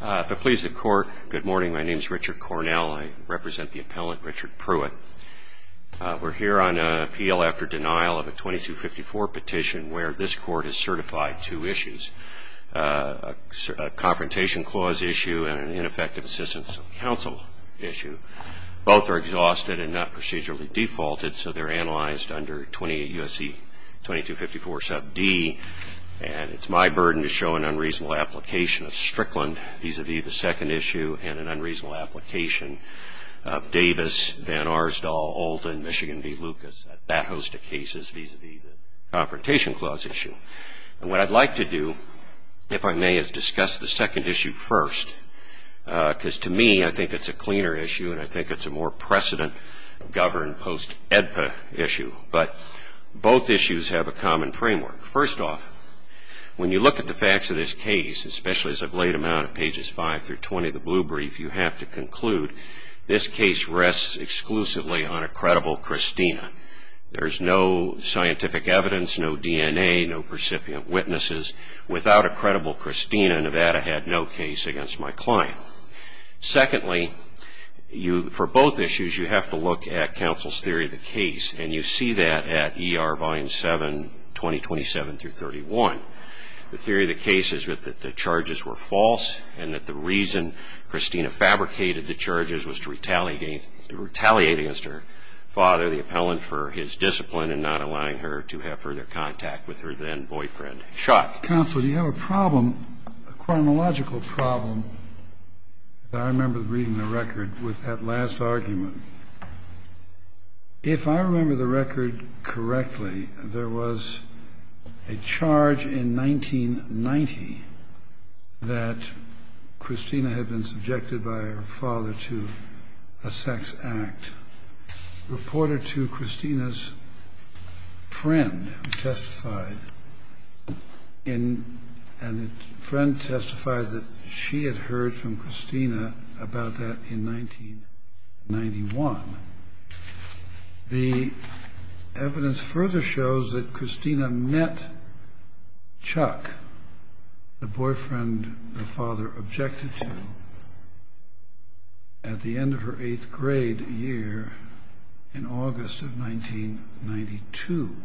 If it pleases the court, good morning. My name's Richard Cornell. I represent the appellant, Richard Pruitt. We're here on appeal after denial of a 2254 petition where this court has certified two issues, a confrontation clause issue and an ineffective assistance of counsel issue. Both are exhausted and not procedurally defaulted, so they're analyzed under 20 U.S.C. 2254 sub D. And it's my burden to show an unreasonable application of Strickland vis-a-vis the second issue and an unreasonable application of Davis, Van Arsdal, Olden, Michigan v. Lucas, that host of cases vis-a-vis the confrontation clause issue. And what I'd like to do, if I may, is discuss the second issue first, because to me, I think it's a cleaner issue and I think it's a more precedent governed post-EDPA issue. But both issues have a common framework. First off, when you look at the facts of this case, especially as of late amount of pages 5 through 20 of the blue brief, you have to conclude this case rests exclusively on a credible Christina. There's no scientific evidence, no DNA, no recipient witnesses. Without a credible Christina, Nevada had no case against my client. Secondly, for both issues, you have to look at counsel's theory of the case. And you see that at ER volume 7, 2027 through 31. The theory of the case is that the charges were false and that the reason Christina fabricated the charges was to retaliate against her father, the appellant, for his discipline in not allowing her to have further contact with her then boyfriend, Chuck. Counsel, do you have a problem, a chronological problem? I remember reading the record with that last argument. If I remember the record correctly, there was a charge in 1990 that Christina had been subjected by her father to a sex act reported to Christina's friend, who testified, and the friend testified that she had heard from Christina about that in 1991. The evidence further shows that Christina met Chuck, the boyfriend her father objected to, at the end of her eighth grade year in August of 1992.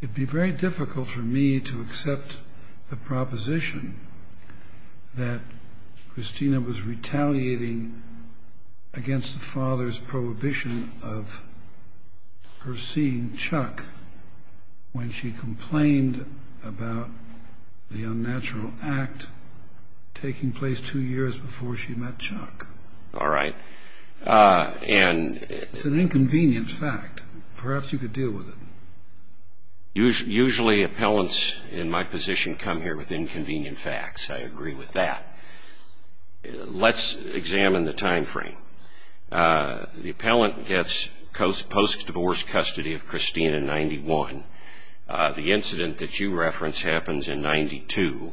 It'd be very difficult for me to accept the proposition that Christina was retaliating against the father's prohibition of her seeing Chuck when she complained about the unnatural act taking place two years before she met Chuck. All right. And it's an inconvenient fact. Perhaps you could deal with it. Usually, appellants in my position come here with inconvenient facts. I agree with that. Let's examine the time frame. The appellant gets post-divorce custody of Christina in 91. The incident that you reference happens in 92.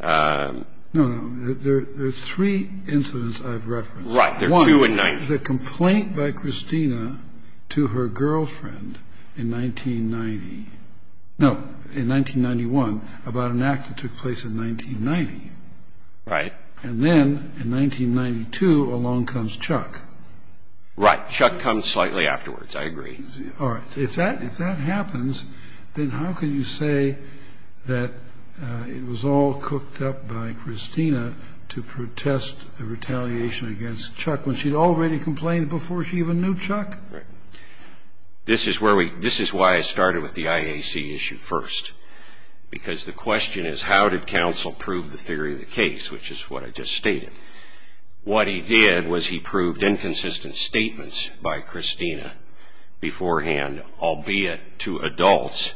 No, no. There are three incidents I've referenced. Right. There are two in 90. One, the complaint by Christina to her girlfriend in 1990. No, in 1991, about an act that took place in 1990. Right. And then, in 1992, along comes Chuck. Right, Chuck comes slightly afterwards. I agree. All right, if that happens, then how can you say that it was all cooked up by Christina to protest the retaliation against Chuck when she'd already complained before she even knew Chuck? Right. This is why I started with the IAC issue first. Because the question is, how did counsel prove the theory of the case, which is what I just stated? What he did was he proved inconsistent statements by Christina beforehand, albeit to adults,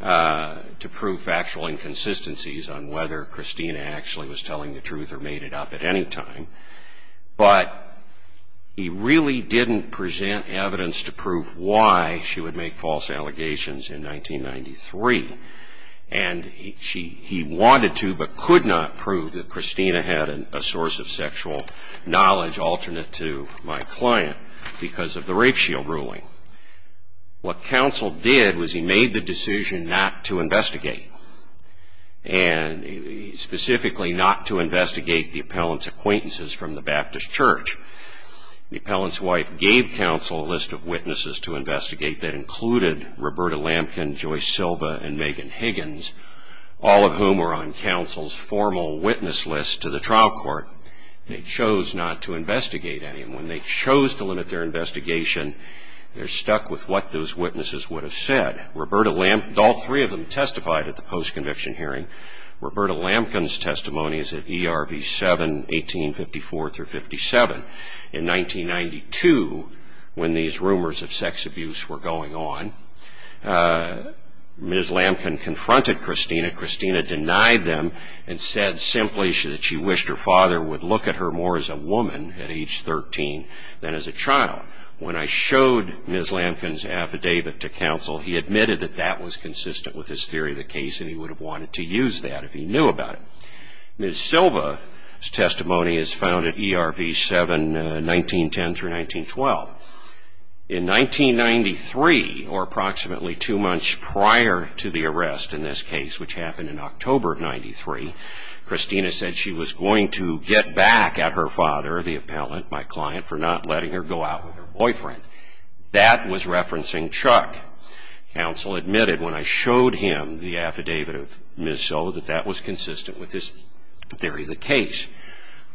to prove factual inconsistencies on whether Christina actually was telling the truth or made it up at any time. But he really didn't present evidence to prove why she would make false allegations in 1993. And he wanted to, but could not prove that Christina had a source of sexual knowledge alternate to my client because of the rape shield ruling. What counsel did was he made the decision not to investigate. And specifically, not to investigate the appellant's acquaintances from the Baptist Church. The appellant's wife gave counsel a list of witnesses to investigate that included Roberta Lampkin, Joyce Silva, and Megan Higgins, all of whom were on counsel's formal witness list to the trial court. They chose not to investigate anyone. They chose to limit their investigation. They're stuck with what those witnesses would have said. All three of them testified at the post-conviction hearing. Roberta Lampkin's testimony is at ERV 7, 1854 through 57. In 1992, when these rumors of sex abuse were going on, Ms. Lampkin confronted Christina. Christina denied them and said simply that she wished her father would look at her more as a woman at age 13 than as a child. When I showed Ms. Lampkin's affidavit to counsel, he admitted that that was consistent with his theory of the case, and he would have wanted to use that if he knew about it. Ms. Silva's testimony is found at ERV 7, 1910 through 1912. In 1993, or approximately two months prior to the arrest in this case, which happened in October of 93, Christina said she was going to get back at her father, the appellant, my client, for not letting her go out with her boyfriend. That was referencing Chuck. Counsel admitted when I showed him the affidavit of Ms. Silva that that was consistent with his theory of the case.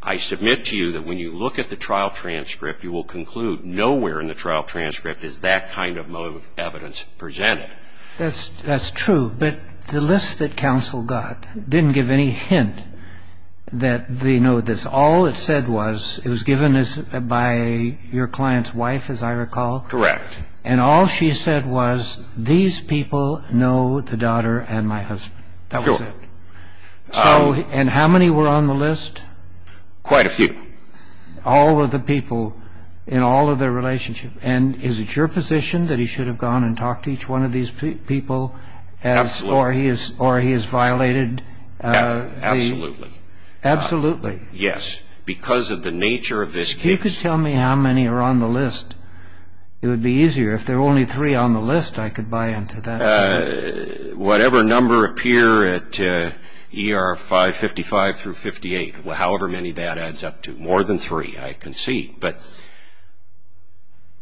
I submit to you that when you look at the trial transcript, you will conclude nowhere in the trial transcript is that kind of motive of evidence presented. That's true, but the list that counsel got didn't give any hint that they know this. All it said was it was given by your client's wife, as I recall. Correct. And all she said was, these people know the daughter and my husband. That was it. And how many were on the list? Quite a few. All of the people in all of their relationships. And is it your position that he should have gone and talked to each one of these people, or he has violated the? Absolutely. Absolutely. Yes, because of the nature of this case. If you could tell me how many are on the list, it would be easier. If there are only three on the list, I could buy into that argument. Whatever number appear at ER 555 through 58, however many that adds up to. More than three, I can see. But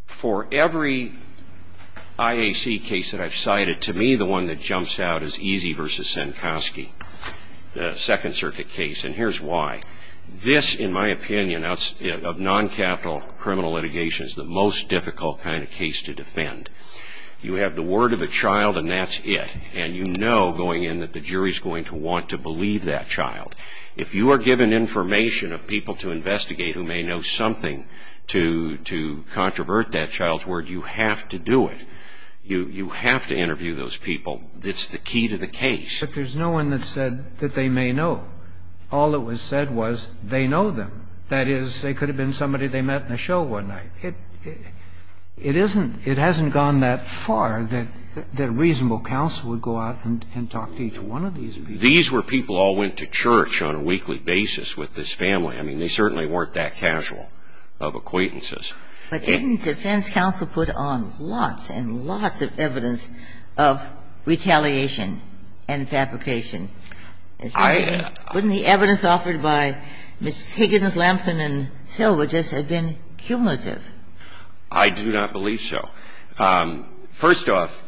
for every IAC case that I've cited, to me the one that jumps out is Easy versus Senkoski, the Second Circuit case. And here's why. This, in my opinion, of non-capital criminal litigation, is the most difficult kind of case to defend. You have the word of a child, and that's it. And you know going in that the jury's going to want to believe that child. If you are given information of people to investigate who may know something to controvert that child's word, you have to do it. You have to interview those people. That's the key to the case. But there's no one that said that they may know. All that was said was they know them. That is, they could have been somebody they met in a show one night. It isn't – it hasn't gone that far that reasonable counsel would go out and talk to each one of these people. These were people all went to church on a weekly basis with this family. I mean, they certainly weren't that casual of acquaintances. But didn't defense counsel put on lots and lots of evidence of retaliation and fabrication? Wouldn't the evidence offered by Ms. Higgins, Lampkin and Silva just have been cumulative? I do not believe so. First off,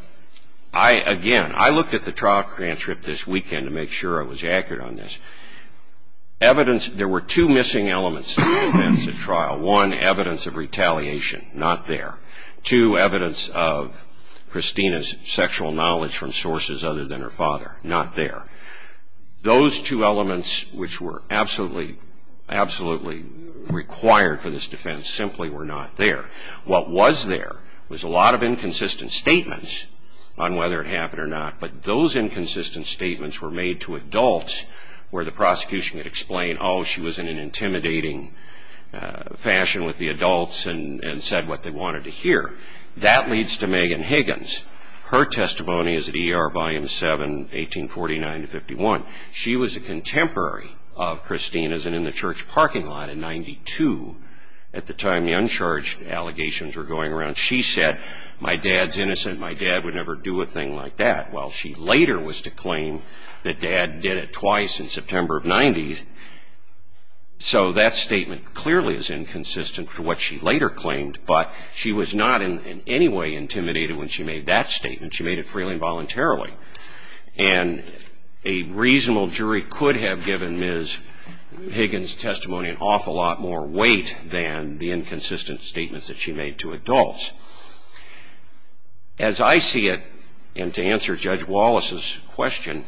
I – again, I looked at the trial transcript this weekend to make sure I was accurate on this. Evidence – there were two missing elements to the defense at trial. One, evidence of retaliation, not there. Two, evidence of Christina's sexual knowledge from sources other than her father, not there. Those two elements which were absolutely – absolutely required for this defense simply were not there. What was there was a lot of inconsistent statements on whether it happened or not. But those inconsistent statements were made to adults where the prosecution could explain, oh, she was in an intimidating fashion with the adults and said what they wanted to hear. That leads to Megan Higgins. Her testimony is at ER Volume 7, 1849 to 51. She was a contemporary of Christina's and in the church parking lot in 92. At the time, the uncharged allegations were going around. She said, my dad's innocent. My dad would never do a thing like that. Well, she later was to claim that dad did it twice in September of 90s. So that statement clearly is inconsistent to what she later claimed. But she was not in any way intimidated when she made that statement. She made it freely and voluntarily. And a reasonable jury could have given Ms. Higgins' testimony an awful lot more weight than the inconsistent statements that she made to adults. As I see it, and to answer Judge Wallace's question,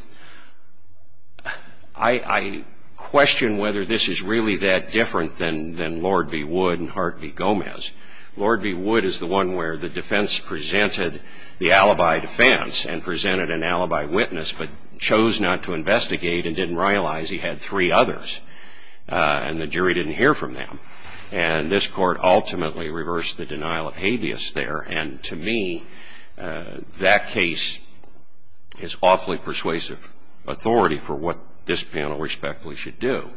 I question whether this is really that different than Lord v. Wood and Hart v. Gomez. Lord v. Wood is the one where the defense presented the alibi defense and presented an alibi witness but chose not to investigate and didn't realize he had three others. And the jury didn't hear from them. And this court ultimately reversed the denial of habeas there. And to me, that case is awfully persuasive authority for what this panel respectfully should do.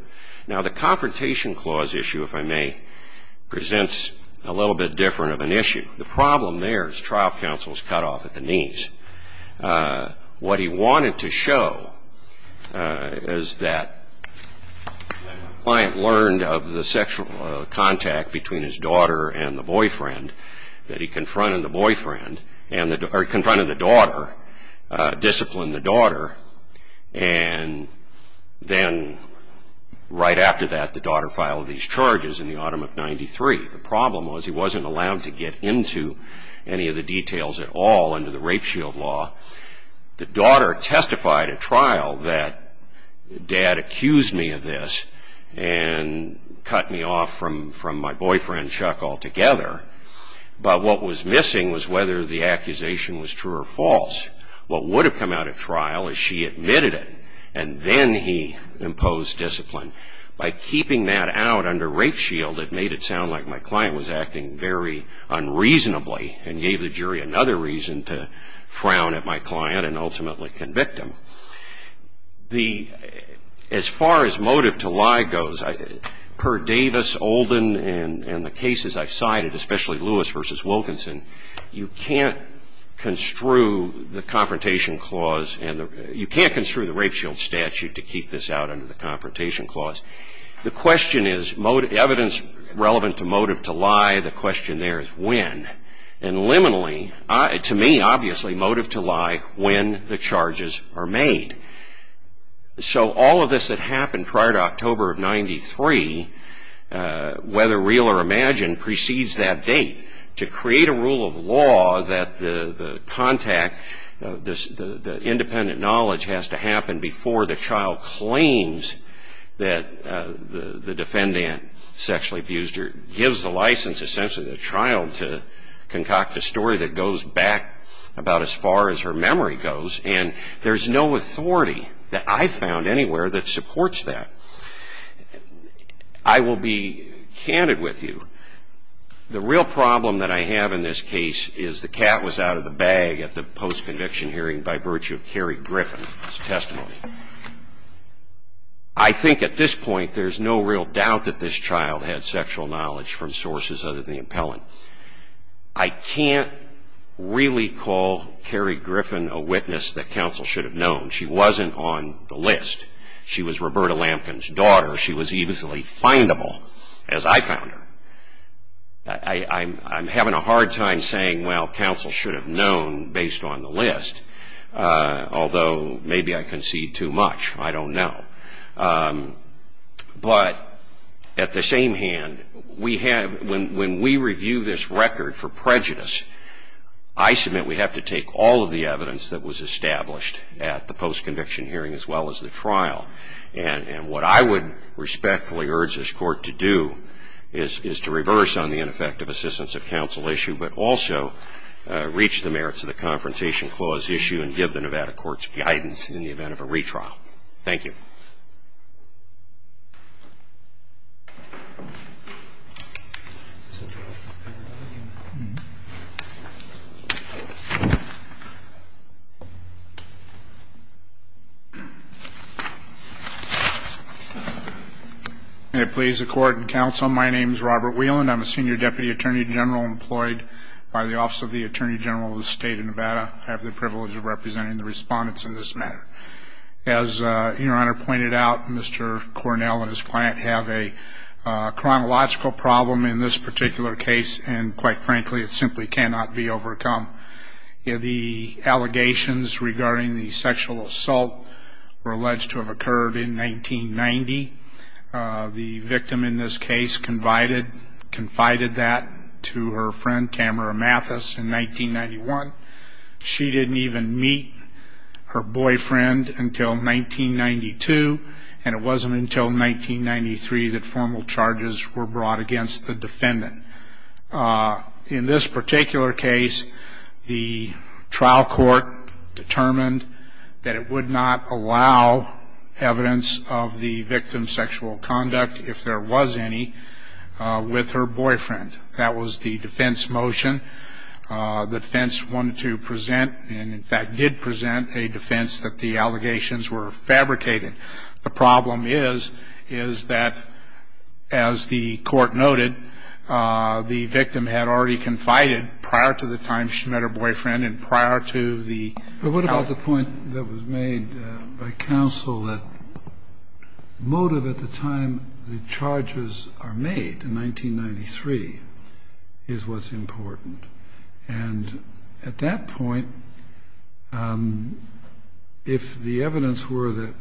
Now, the Confrontation Clause issue, if I may, presents a little bit different of an issue. The problem there is trial counsel is cut off at the knees. What he wanted to show is that when a client learned of the sexual contact between his daughter and the boyfriend, that he confronted the boyfriend, or confronted the daughter, disciplined the daughter, and then right after that the daughter filed these charges in the autumn of 93, the problem was he wasn't allowed to get into any of the details at all under the rape shield law. The daughter testified at trial that dad accused me of this and cut me off from my boyfriend, Chuck, altogether. But what was missing was whether the accusation was true or false. What would have come out at trial is she admitted it and then he imposed discipline. By keeping that out under rape shield, it made it sound like my client was acting very unreasonably and gave the jury another reason to frown at my client and ultimately convict him. As far as motive to lie goes, per Davis, Olden, and the cases I've cited, especially Lewis v. Wilkinson, you can't construe the rape shield statute to keep this out under the confrontation clause. The question is, evidence relevant to motive to lie, the question there is when. And liminally, to me, obviously, motive to lie when the charges are made. So all of this that happened prior to October of 93, whether real or imagined, precedes that date to create a rule of law that the contact, the independent knowledge has to happen before the child claims that the defendant sexually abused her gives the license, essentially, the child to concoct a story that goes back about as far as her memory goes. And there's no authority that I've found anywhere that supports that. I will be candid with you. The real problem that I have in this case is the cat was out of the bag at the post-conviction hearing by virtue of Carrie Griffin's testimony. I think at this point, there's no real doubt that this child had sexual knowledge from sources other than the appellant. I can't really call Carrie Griffin a witness that counsel should have known. She wasn't on the list. She was Roberta Lampkin's daughter. She was easily findable, as I found her. I'm having a hard time saying, well, counsel should have known based on the list, although maybe I concede too much. I don't know. But at the same hand, we have, when we review this record for prejudice, I submit we have to take all of the evidence that was established at the post-conviction hearing as well as the trial. And what I would respectfully urge this court to do is to reverse on the ineffective assistance of counsel issue, but also reach the merits of the Confrontation Clause issue and give the Nevada courts guidance in the event of a retrial. Thank you. May it please the court and counsel, my name is Robert Whelan. I'm a senior deputy attorney general employed by the Office of the Attorney General of the State of Nevada. I have the privilege of representing the respondents in this matter. As your Honor pointed out, Mr. Cornell and his client have a chronological problem in this particular case, and quite frankly, it simply cannot be overcome. The allegations regarding the sexual assault were alleged to have occurred in 1990. The victim in this case confided that to her friend, Tamara Mathis, in 1991. She didn't even meet her boyfriend until 1992, and it wasn't until 1993 that formal charges were brought against the defendant. In this particular case, the trial court determined that it would not allow evidence of the victim's sexual conduct, if there was any, with her boyfriend. That was the defense motion. The defense wanted to present, and in fact did present, a defense that the allegations were fabricated. The problem is, is that, as the court noted, the victim had already confided prior to the time she met her boyfriend and prior to the... But what about the point that was made by counsel that motive at the time the charges are made, in 1993, is what's important? And at that point, if the evidence were that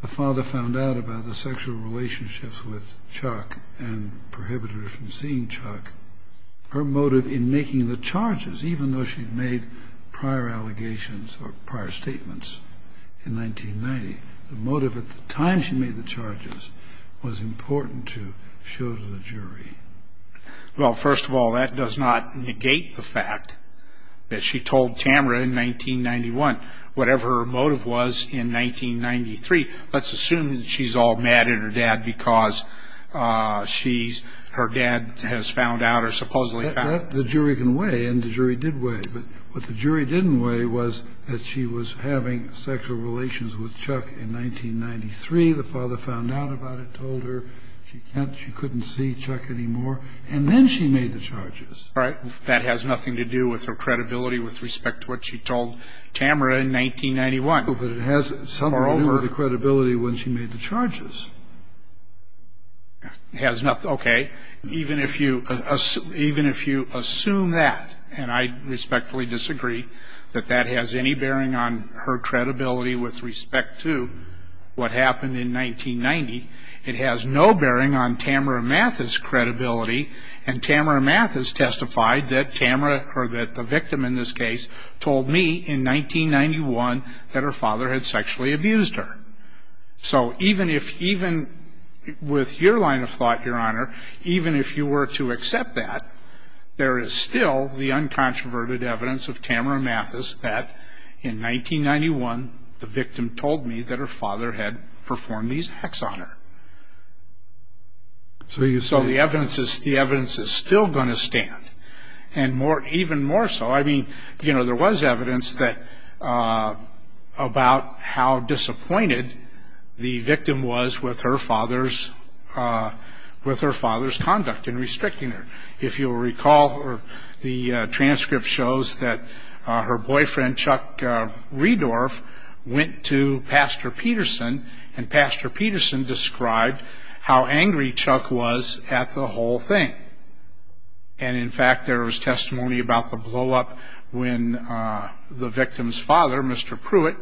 the father found out about the sexual relationships with Chuck and prohibited her from seeing Chuck, her motive in making the charges, even though she'd made prior allegations or prior statements in 1990, the motive at the time she made the charges was important to show to the jury. Well, first of all, that does not negate the fact that she told Tamara in 1991, whatever her motive was in 1993. Let's assume that she's all mad at her dad because she's, her dad has found out or supposedly found out. The jury can weigh, and the jury did weigh, but what the jury didn't weigh was that she was having sexual relations with Chuck in 1993. The father found out about it, told her she can't, she couldn't see Chuck anymore, and then she made the charges. All right. That has nothing to do with her credibility with respect to what she told Tamara in 1991. But it has something to do with the credibility when she made the charges. Has nothing, okay. Even if you assume that, and I respectfully disagree, that that has any bearing on her credibility with respect to what happened in 1990. It has no bearing on Tamara Mathis' credibility, and Tamara Mathis testified that Tamara, or that the victim in this case, told me in 1991 that her father had sexually abused her. So even if, even with your line of thought, Your Honor, even if you were to accept that, there is still the uncontroverted evidence of Tamara Mathis that in 1991 the victim told me that her father had sex on her. So the evidence is still going to stand, and even more so. I mean, there was evidence about how disappointed the victim was with her father's conduct in restricting her. If you'll recall, the transcript shows that her boyfriend, Chuck Rehdorf, went to Pastor Peterson, and Pastor Peterson described how angry Chuck was at the whole thing. And in fact, there was testimony about the blow up when the victim's father, Mr. Pruitt,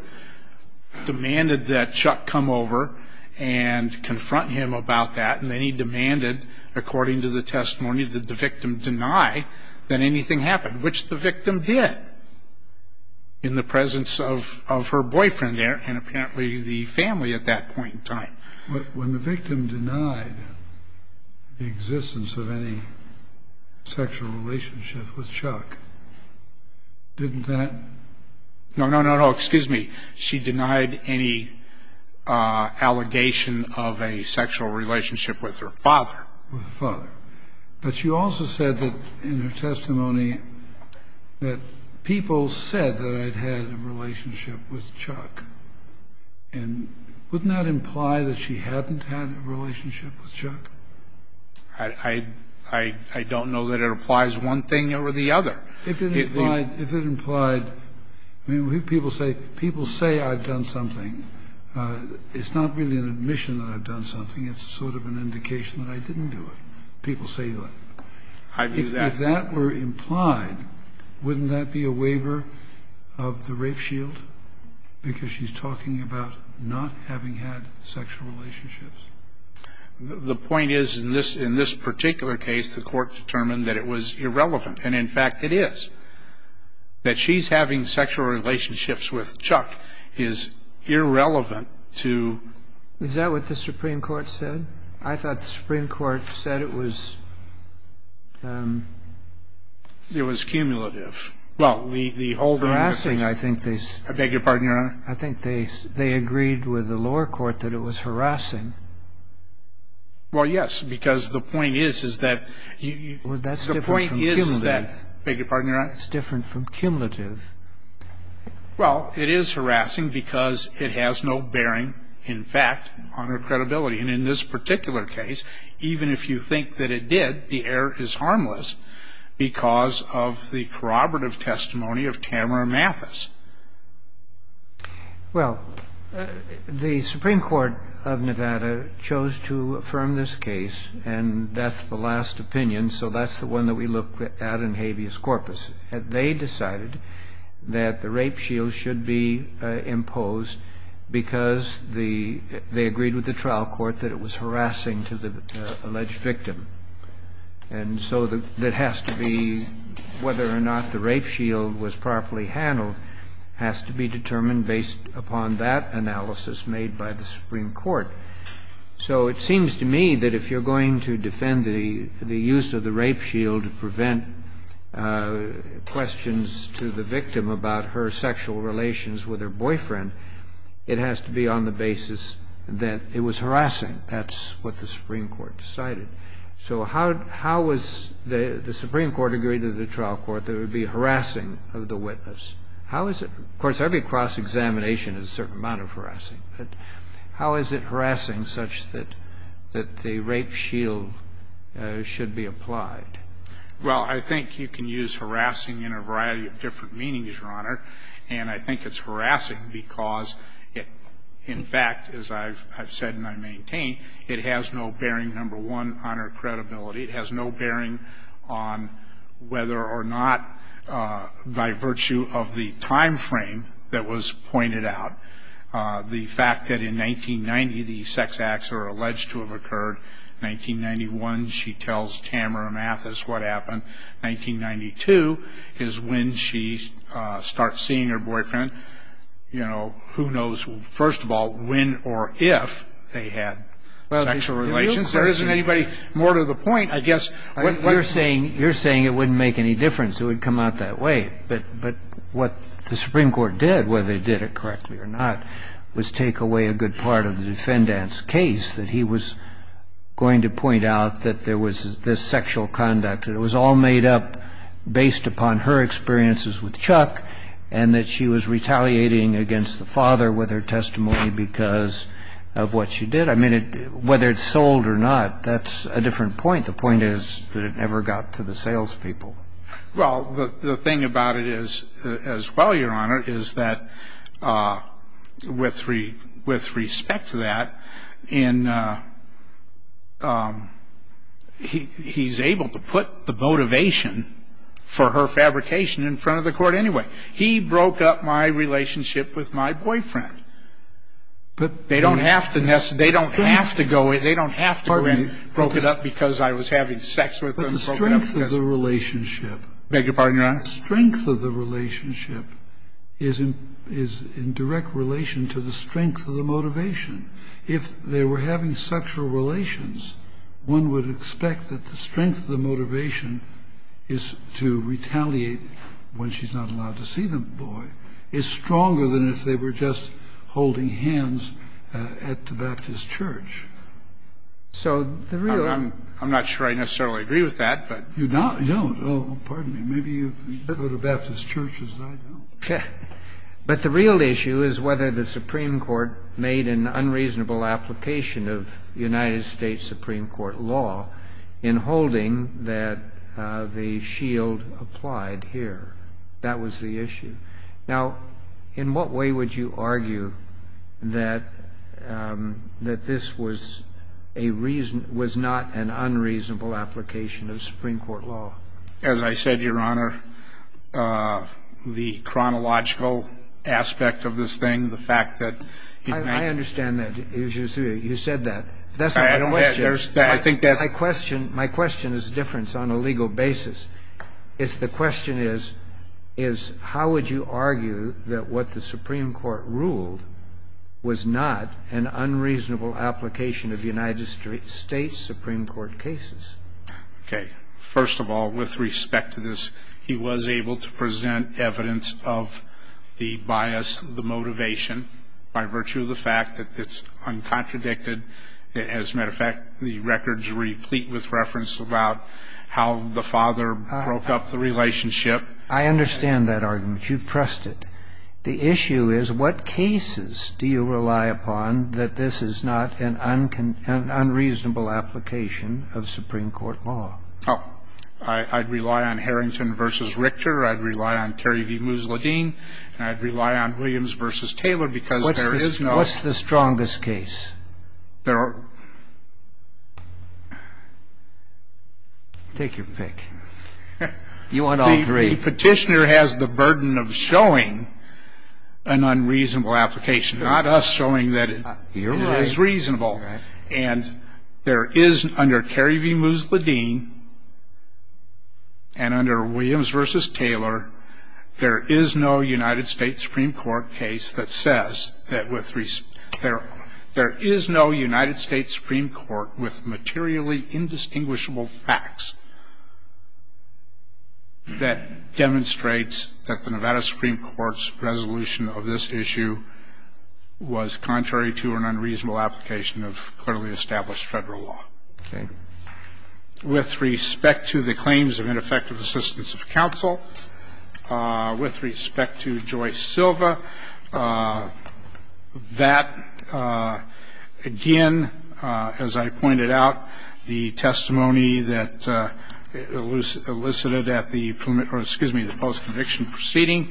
demanded that Chuck come over and confront him about that. And then he demanded, according to the testimony, that the victim deny that anything happened, which the victim did. In the presence of her boyfriend there and apparently the family at that point in time. When the victim denied the existence of any sexual relationship with Chuck, didn't that- No, no, no, no, excuse me. She denied any allegation of a sexual relationship with her father. With her father. But she also said that in her testimony that people said that I'd had a relationship with Chuck, and wouldn't that imply that she hadn't had a relationship with Chuck? I don't know that it applies one thing over the other. If it implied, I mean, people say I've done something. It's not really an admission that I've done something. It's sort of an indication that I didn't do it. And people say that. If that were implied, wouldn't that be a waiver of the rape shield? Because she's talking about not having had sexual relationships. The point is, in this particular case, the court determined that it was irrelevant. And in fact, it is. That she's having sexual relationships with Chuck is irrelevant to- Is that what the Supreme Court said? I thought the Supreme Court said it was- It was cumulative. Well, the whole- Harassing, I think they- I beg your pardon, Your Honor? I think they agreed with the lower court that it was harassing. Well, yes, because the point is, is that you- Well, that's different from cumulative. The point is that, I beg your pardon, Your Honor? It's different from cumulative. Well, it is harassing because it has no bearing, in fact, on her credibility. And in this particular case, even if you think that it did, the error is harmless because of the corroborative testimony of Tamara Mathis. Well, the Supreme Court of Nevada chose to affirm this case, and that's the last opinion, so that's the one that we look at in habeas corpus. They decided that the rape shield should be imposed because they agreed with the trial court that it was harassing to the alleged victim. And so that has to be, whether or not the rape shield was properly handled, has to be determined based upon that analysis made by the Supreme Court. So it seems to me that if you're going to defend the use of the rape shield to prevent questions to the victim about her sexual relations with her boyfriend, it has to be on the basis that it was harassing. That's what the Supreme Court decided. So how was the Supreme Court agreed to the trial court that it would be harassing of the witness? How is it, of course, every cross-examination is a certain amount of harassing, but how is it harassing such that the rape shield should be applied? Well, I think you can use harassing in a variety of different meanings, Your Honor. And I think it's harassing because it, in fact, as I've said and I maintain, it has no bearing, number one, on her credibility. It has no bearing on whether or not by virtue of the time frame that was pointed out. The fact that in 1990, the sex acts are alleged to have occurred. 1991, she tells Tamara Mathis what happened. 1992 is when she starts seeing her boyfriend. Who knows, first of all, when or if they had sexual relations. There isn't anybody more to the point, I guess. You're saying it wouldn't make any difference. It would come out that way. But what the Supreme Court did, whether they did it correctly or not, was take away a good part of the defendant's case, that he was going to point out that there was this sexual conduct. And it was all made up based upon her experiences with Chuck, and that she was retaliating against the father with her testimony because of what she did. I mean, whether it sold or not, that's a different point. The point is that it never got to the salespeople. Well, the thing about it is, as well, Your Honor, is that with respect to that, he's able to put the motivation for her fabrication in front of the court anyway. He broke up my relationship with my boyfriend. They don't have to go in, broke it up because I was having sex with him. The strength of the relationship- Beg your pardon, Your Honor? The strength of the relationship is in direct relation to the strength of the motivation. If they were having sexual relations, one would expect that the strength of the motivation is to retaliate when she's not allowed to see the boy. It's stronger than if they were just holding hands at the Baptist church. So the real- I'm not sure I necessarily agree with that, but- You don't? You don't? Pardon me, maybe you go to Baptist churches and I don't. But the real issue is whether the Supreme Court made an unreasonable application of United States Supreme Court law in holding that the shield applied here. That was the issue. Now, in what way would you argue that this was not an unreasonable application of Supreme Court law? As I said, Your Honor, the chronological aspect of this thing, the fact that- I understand that, you said that. That's not my question. I think that's- My question is different on a legal basis. The question is, how would you argue that what the Supreme Court ruled was not an unreasonable application of United States Supreme Court cases? Okay, first of all, with respect to this, he was able to present evidence of the bias, the motivation. By virtue of the fact that it's uncontradicted, as a matter of fact, the records replete with reference about how the father broke up the relationship. I understand that argument. You trust it. The issue is, what cases do you rely upon that this is not an unreasonable application of Supreme Court law? I'd rely on Harrington v. Richter. I'd rely on Kerry v. Moosledine. And I'd rely on Williams v. Taylor because there is no- What's the strongest case? Take your pick. You want all three. The petitioner has the burden of showing an unreasonable application, not us showing that it is reasonable. And there is, under Kerry v. Moosledine and under Williams v. Taylor, there is no United States Supreme Court case that says that with respect- There is no United States Supreme Court with materially indistinguishable facts that demonstrates that the Nevada Supreme Court's resolution of this issue was contrary to an unreasonable application of clearly established federal law. Okay. With respect to the claims of ineffective assistance of counsel, with respect to Joyce Silva, that, again, as I pointed out, the testimony that elicited at the post-conviction proceeding,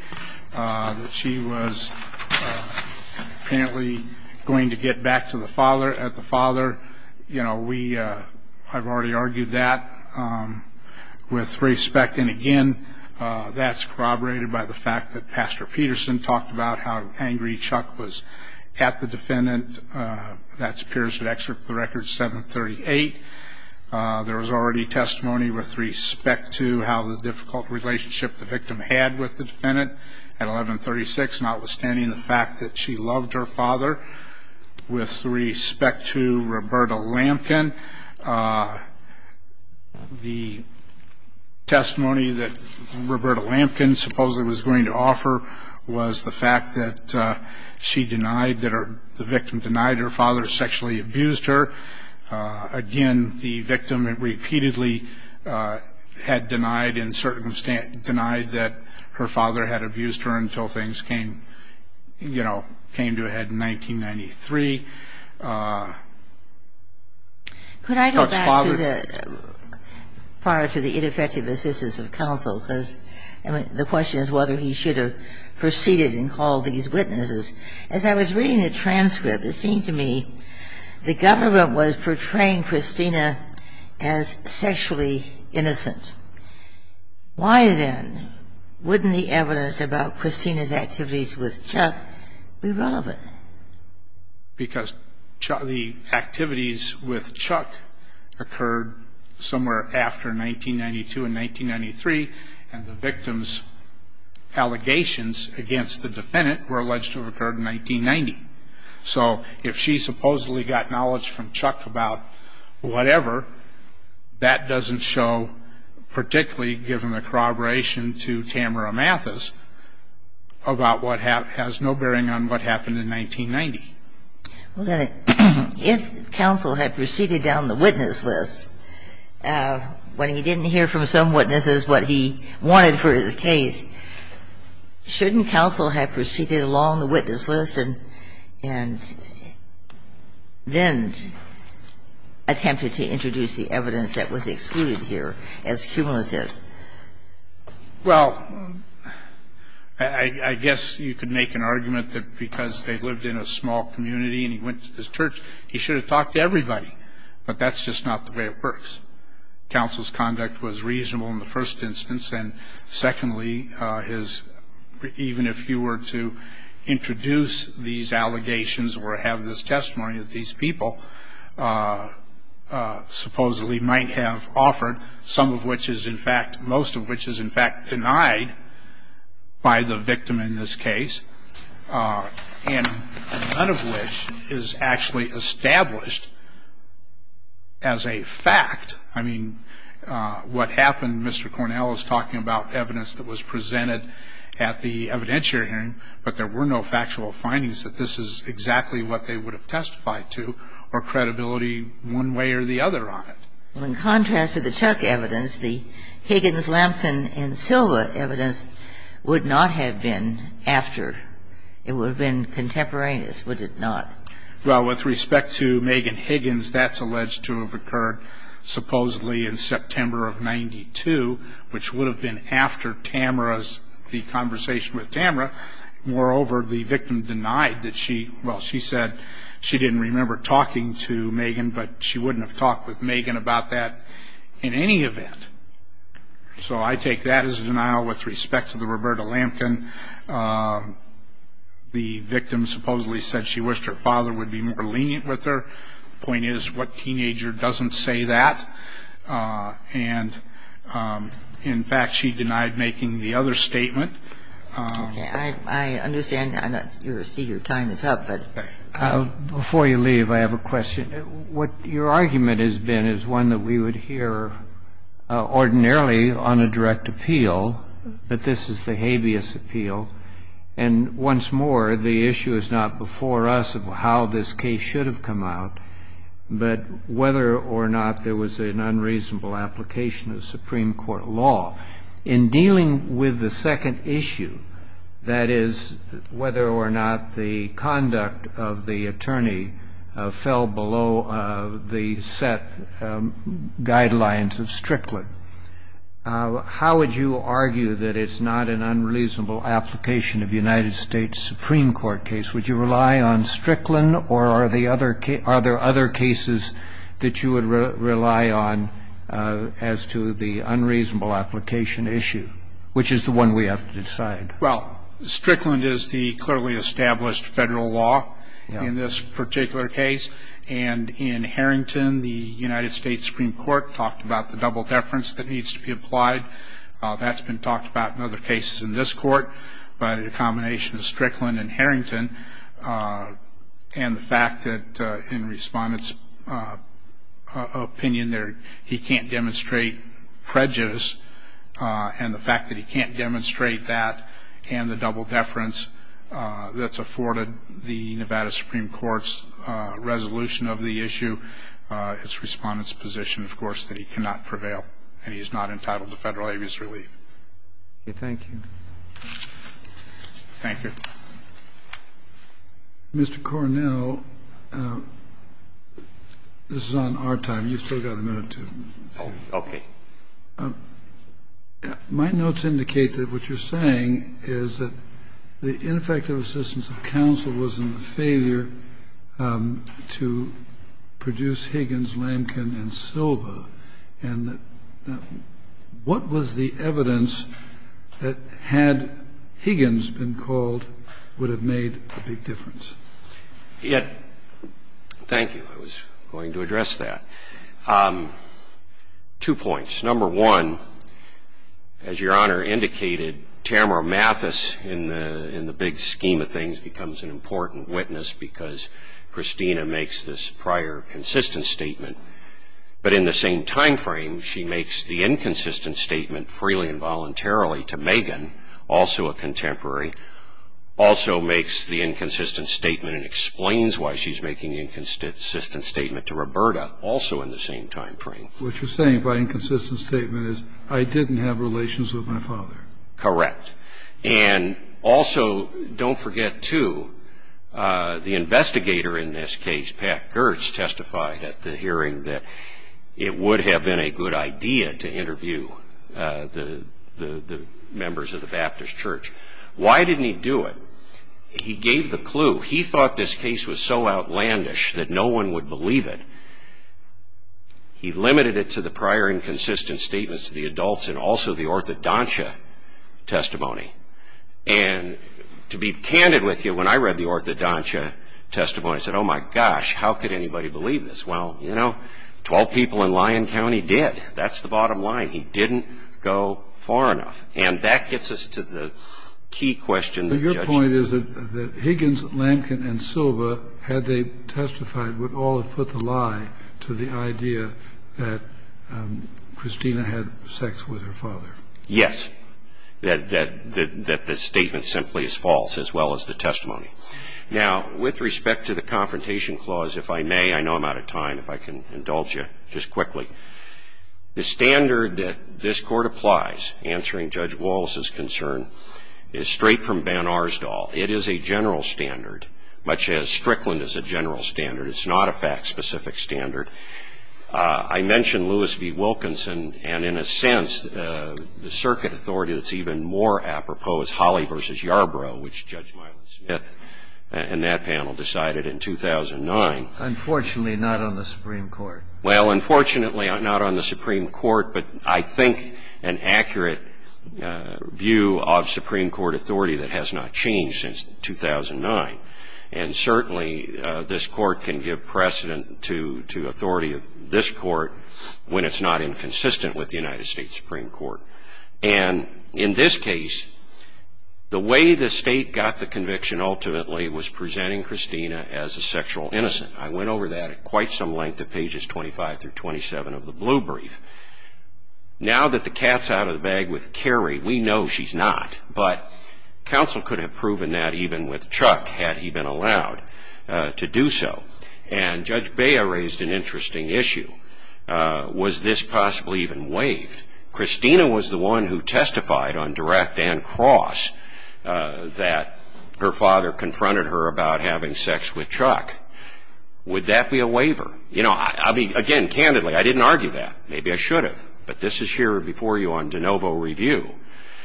that she was apparently going to get back to the father at the father. I've already argued that with respect. And, again, that's corroborated by the fact that Pastor Peterson talked about how angry Chuck was at the defendant. That appears to excerpt the record 738. There was already testimony with respect to how the difficult relationship the victim had with the defendant at 1136, notwithstanding the fact that she loved her father. With respect to Roberta Lampkin, the testimony that Roberta Lampkin supposedly was going to offer was the fact that she denied, that the victim denied her father sexually abused her. Again, the victim repeatedly had denied, in certain extent, denied that her father had abused her until things came to a head in 1993. Could I go back to the ineffective assistance of counsel? Because the question is whether he should have proceeded and called these witnesses. As I was reading the transcript, it seemed to me the government was portraying Christina as sexually innocent. Why, then, wouldn't the evidence about Christina's activities with Chuck be relevant? Because the activities with Chuck occurred somewhere after 1992 and 1993, and the victim's allegations against the defendant were alleged to have occurred in 1990. So, if she supposedly got knowledge from Chuck about whatever, that doesn't show, particularly given the corroboration to Tamara Mathis, about what has no bearing on what happened in 1990. Well, then, if counsel had proceeded down the witness list, when he didn't hear from some witnesses what he wanted for his case, shouldn't counsel have proceeded along the witness list and then attempted to introduce the evidence that was excluded here as cumulative? Well, I guess you could make an argument that because they lived in a small community and he went to this church, he should have talked to everybody. But that's just not the way it works. Counsel's conduct was reasonable in the first instance. And, secondly, even if he were to introduce these allegations or have this testimony that these people supposedly might have offered, some of which is, in fact, most of which is, in fact, denied by the victim in this case, and none of which is actually established as a fact. I mean, what happened, Mr. Cornell is talking about evidence that was presented at the evidentiary hearing, but there were no factual findings that this is exactly what they would have testified to or credibility one way or the other on it. Well, in contrast to the Chuck evidence, the Higgins, Lampkin, and Silva evidence would not have been after. It would have been contemporaneous, would it not? Well, with respect to Megan Higgins, that's alleged to have occurred supposedly in September of 92, which would have been after Tamara's, the conversation with Tamara. Moreover, the victim denied that she, well, she said she didn't remember talking to Megan, but she wouldn't have talked with Megan about that in any event. So I take that as a denial with respect to the Roberta Lampkin. The victim supposedly said she wished her father would be more lenient with her. The point is what teenager doesn't say that? And, in fact, she denied making the other statement. Okay. I understand. I see your time is up. But before you leave, I have a question. What your argument has been is one that we would hear ordinarily on a direct appeal, that this is the habeas appeal. And once more, the issue is not before us of how this case should have come out, but whether or not there was an unreasonable application of Supreme Court law. In dealing with the second issue, that is, whether or not the conduct of the attorney fell below the set guidelines of Strickland, how would you argue that it's not an unreasonable application of United States Supreme Court case? Would you rely on Strickland? Or are there other cases that you would rely on as to the unreasonable application issue, which is the one we have to decide? Well, Strickland is the clearly established federal law in this particular case. And in Harrington, the United States Supreme Court talked about the double deference that needs to be applied. That's been talked about in other cases in this court. But in a combination of Strickland and Harrington, and the fact that in Respondent's opinion, he can't demonstrate prejudice, and the fact that he can't demonstrate that, and the double deference that's afforded the Nevada Supreme Court's resolution of the issue, it's Respondent's position, of course, that he cannot prevail and he is not entitled to Federal abuse relief. Okay. Thank you. Thank you. Mr. Cornell, this is on our time. You've still got a minute to say. Okay. My notes indicate that what you're saying is that the ineffective assistance of counsel was in the failure to produce Higgins, Lamkin and Silva, and that what was the evidence that had Higgins been called would have made a big difference? Thank you. I was going to address that. Two points. Number one, as Your Honor indicated, Tamara Mathis, in the big scheme of things, becomes an important witness because Christina makes this prior consistent statement. But in the same time frame, she makes the inconsistent statement freely and voluntarily to Megan, also a contemporary, also makes the inconsistent statement and explains why she's making the inconsistent statement to Roberta, also in the same time frame. What you're saying by inconsistent statement is I didn't have relations with my father. Correct. And also, don't forget, too, the investigator in this case, Pat Gertz, testified at the hearing that it would have been a good idea to interview the members of the Baptist Church. Why didn't he do it? He gave the clue. He thought this case was so outlandish that no one would believe it. He limited it to the prior inconsistent statements to the adults and also the orthodontia testimony. And to be candid with you, when I read the orthodontia testimony, I said, oh, my gosh, how could anybody believe this? Well, you know, 12 people in Lyon County did. That's the bottom line. He didn't go far enough. And that gets us to the key question. Your point is that Higgins, Lankin, and Silva, had they testified, would all have put the lie to the idea that Christina had sex with her father. Yes. That the statement simply is false, as well as the testimony. Now, with respect to the Confrontation Clause, if I may, I know I'm out of time, if I can indulge you just quickly. The standard that this Court applies, answering Judge Wallace's concern, is straight from Van Arsdal. It is a general standard, much as Strickland is a general standard. It's not a fact-specific standard. I mentioned Lewis v. Wilkinson, and in a sense, the circuit authority that's even more apropos, Holly v. Yarbrough, which Judge Milo Smith and that panel decided in 2009. Unfortunately, not on the Supreme Court. Well, unfortunately, not on the Supreme Court. But I think an accurate view of Supreme Court authority that has not changed since 2009. And certainly, this Court can give precedent to authority of this Court when it's not inconsistent with the United States Supreme Court. And in this case, the way the State got the conviction, ultimately, was presenting Christina as a sexual innocent. I went over that at quite some length at pages 25 through 27 of the Blue Brief. Now that the cat's out of the bag with Carrie, we know she's not. But counsel could have proven that even with Chuck, had he been allowed to do so. And Judge Bea raised an interesting issue. Was this possibly even waived? Christina was the one who testified on direct and cross that her father confronted her about having sex with Chuck. Would that be a waiver? You know, again, candidly, I didn't argue that. Maybe I should have. But this is here before you on de novo review.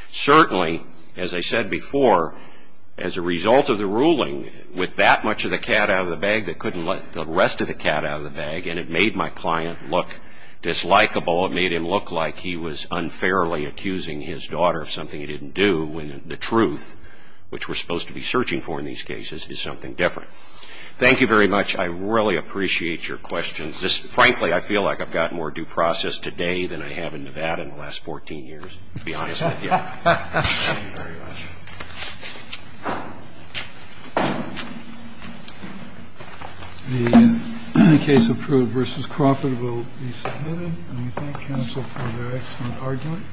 Certainly, as I said before, as a result of the ruling, with that much of the cat out of the bag, they couldn't let the rest of the cat out of the bag. And it made my client look dislikable. It made him look like he was unfairly accusing his daughter of something he didn't do when the truth, which we're supposed to be searching for in these cases, is something different. Thank you very much. I really appreciate your questions. Frankly, I feel like I've gotten more due process today than I have in Nevada in the last 14 years, to be honest with you. Thank you very much. The case approved versus Crawford will be submitted. And we thank counsel for their excellent argument.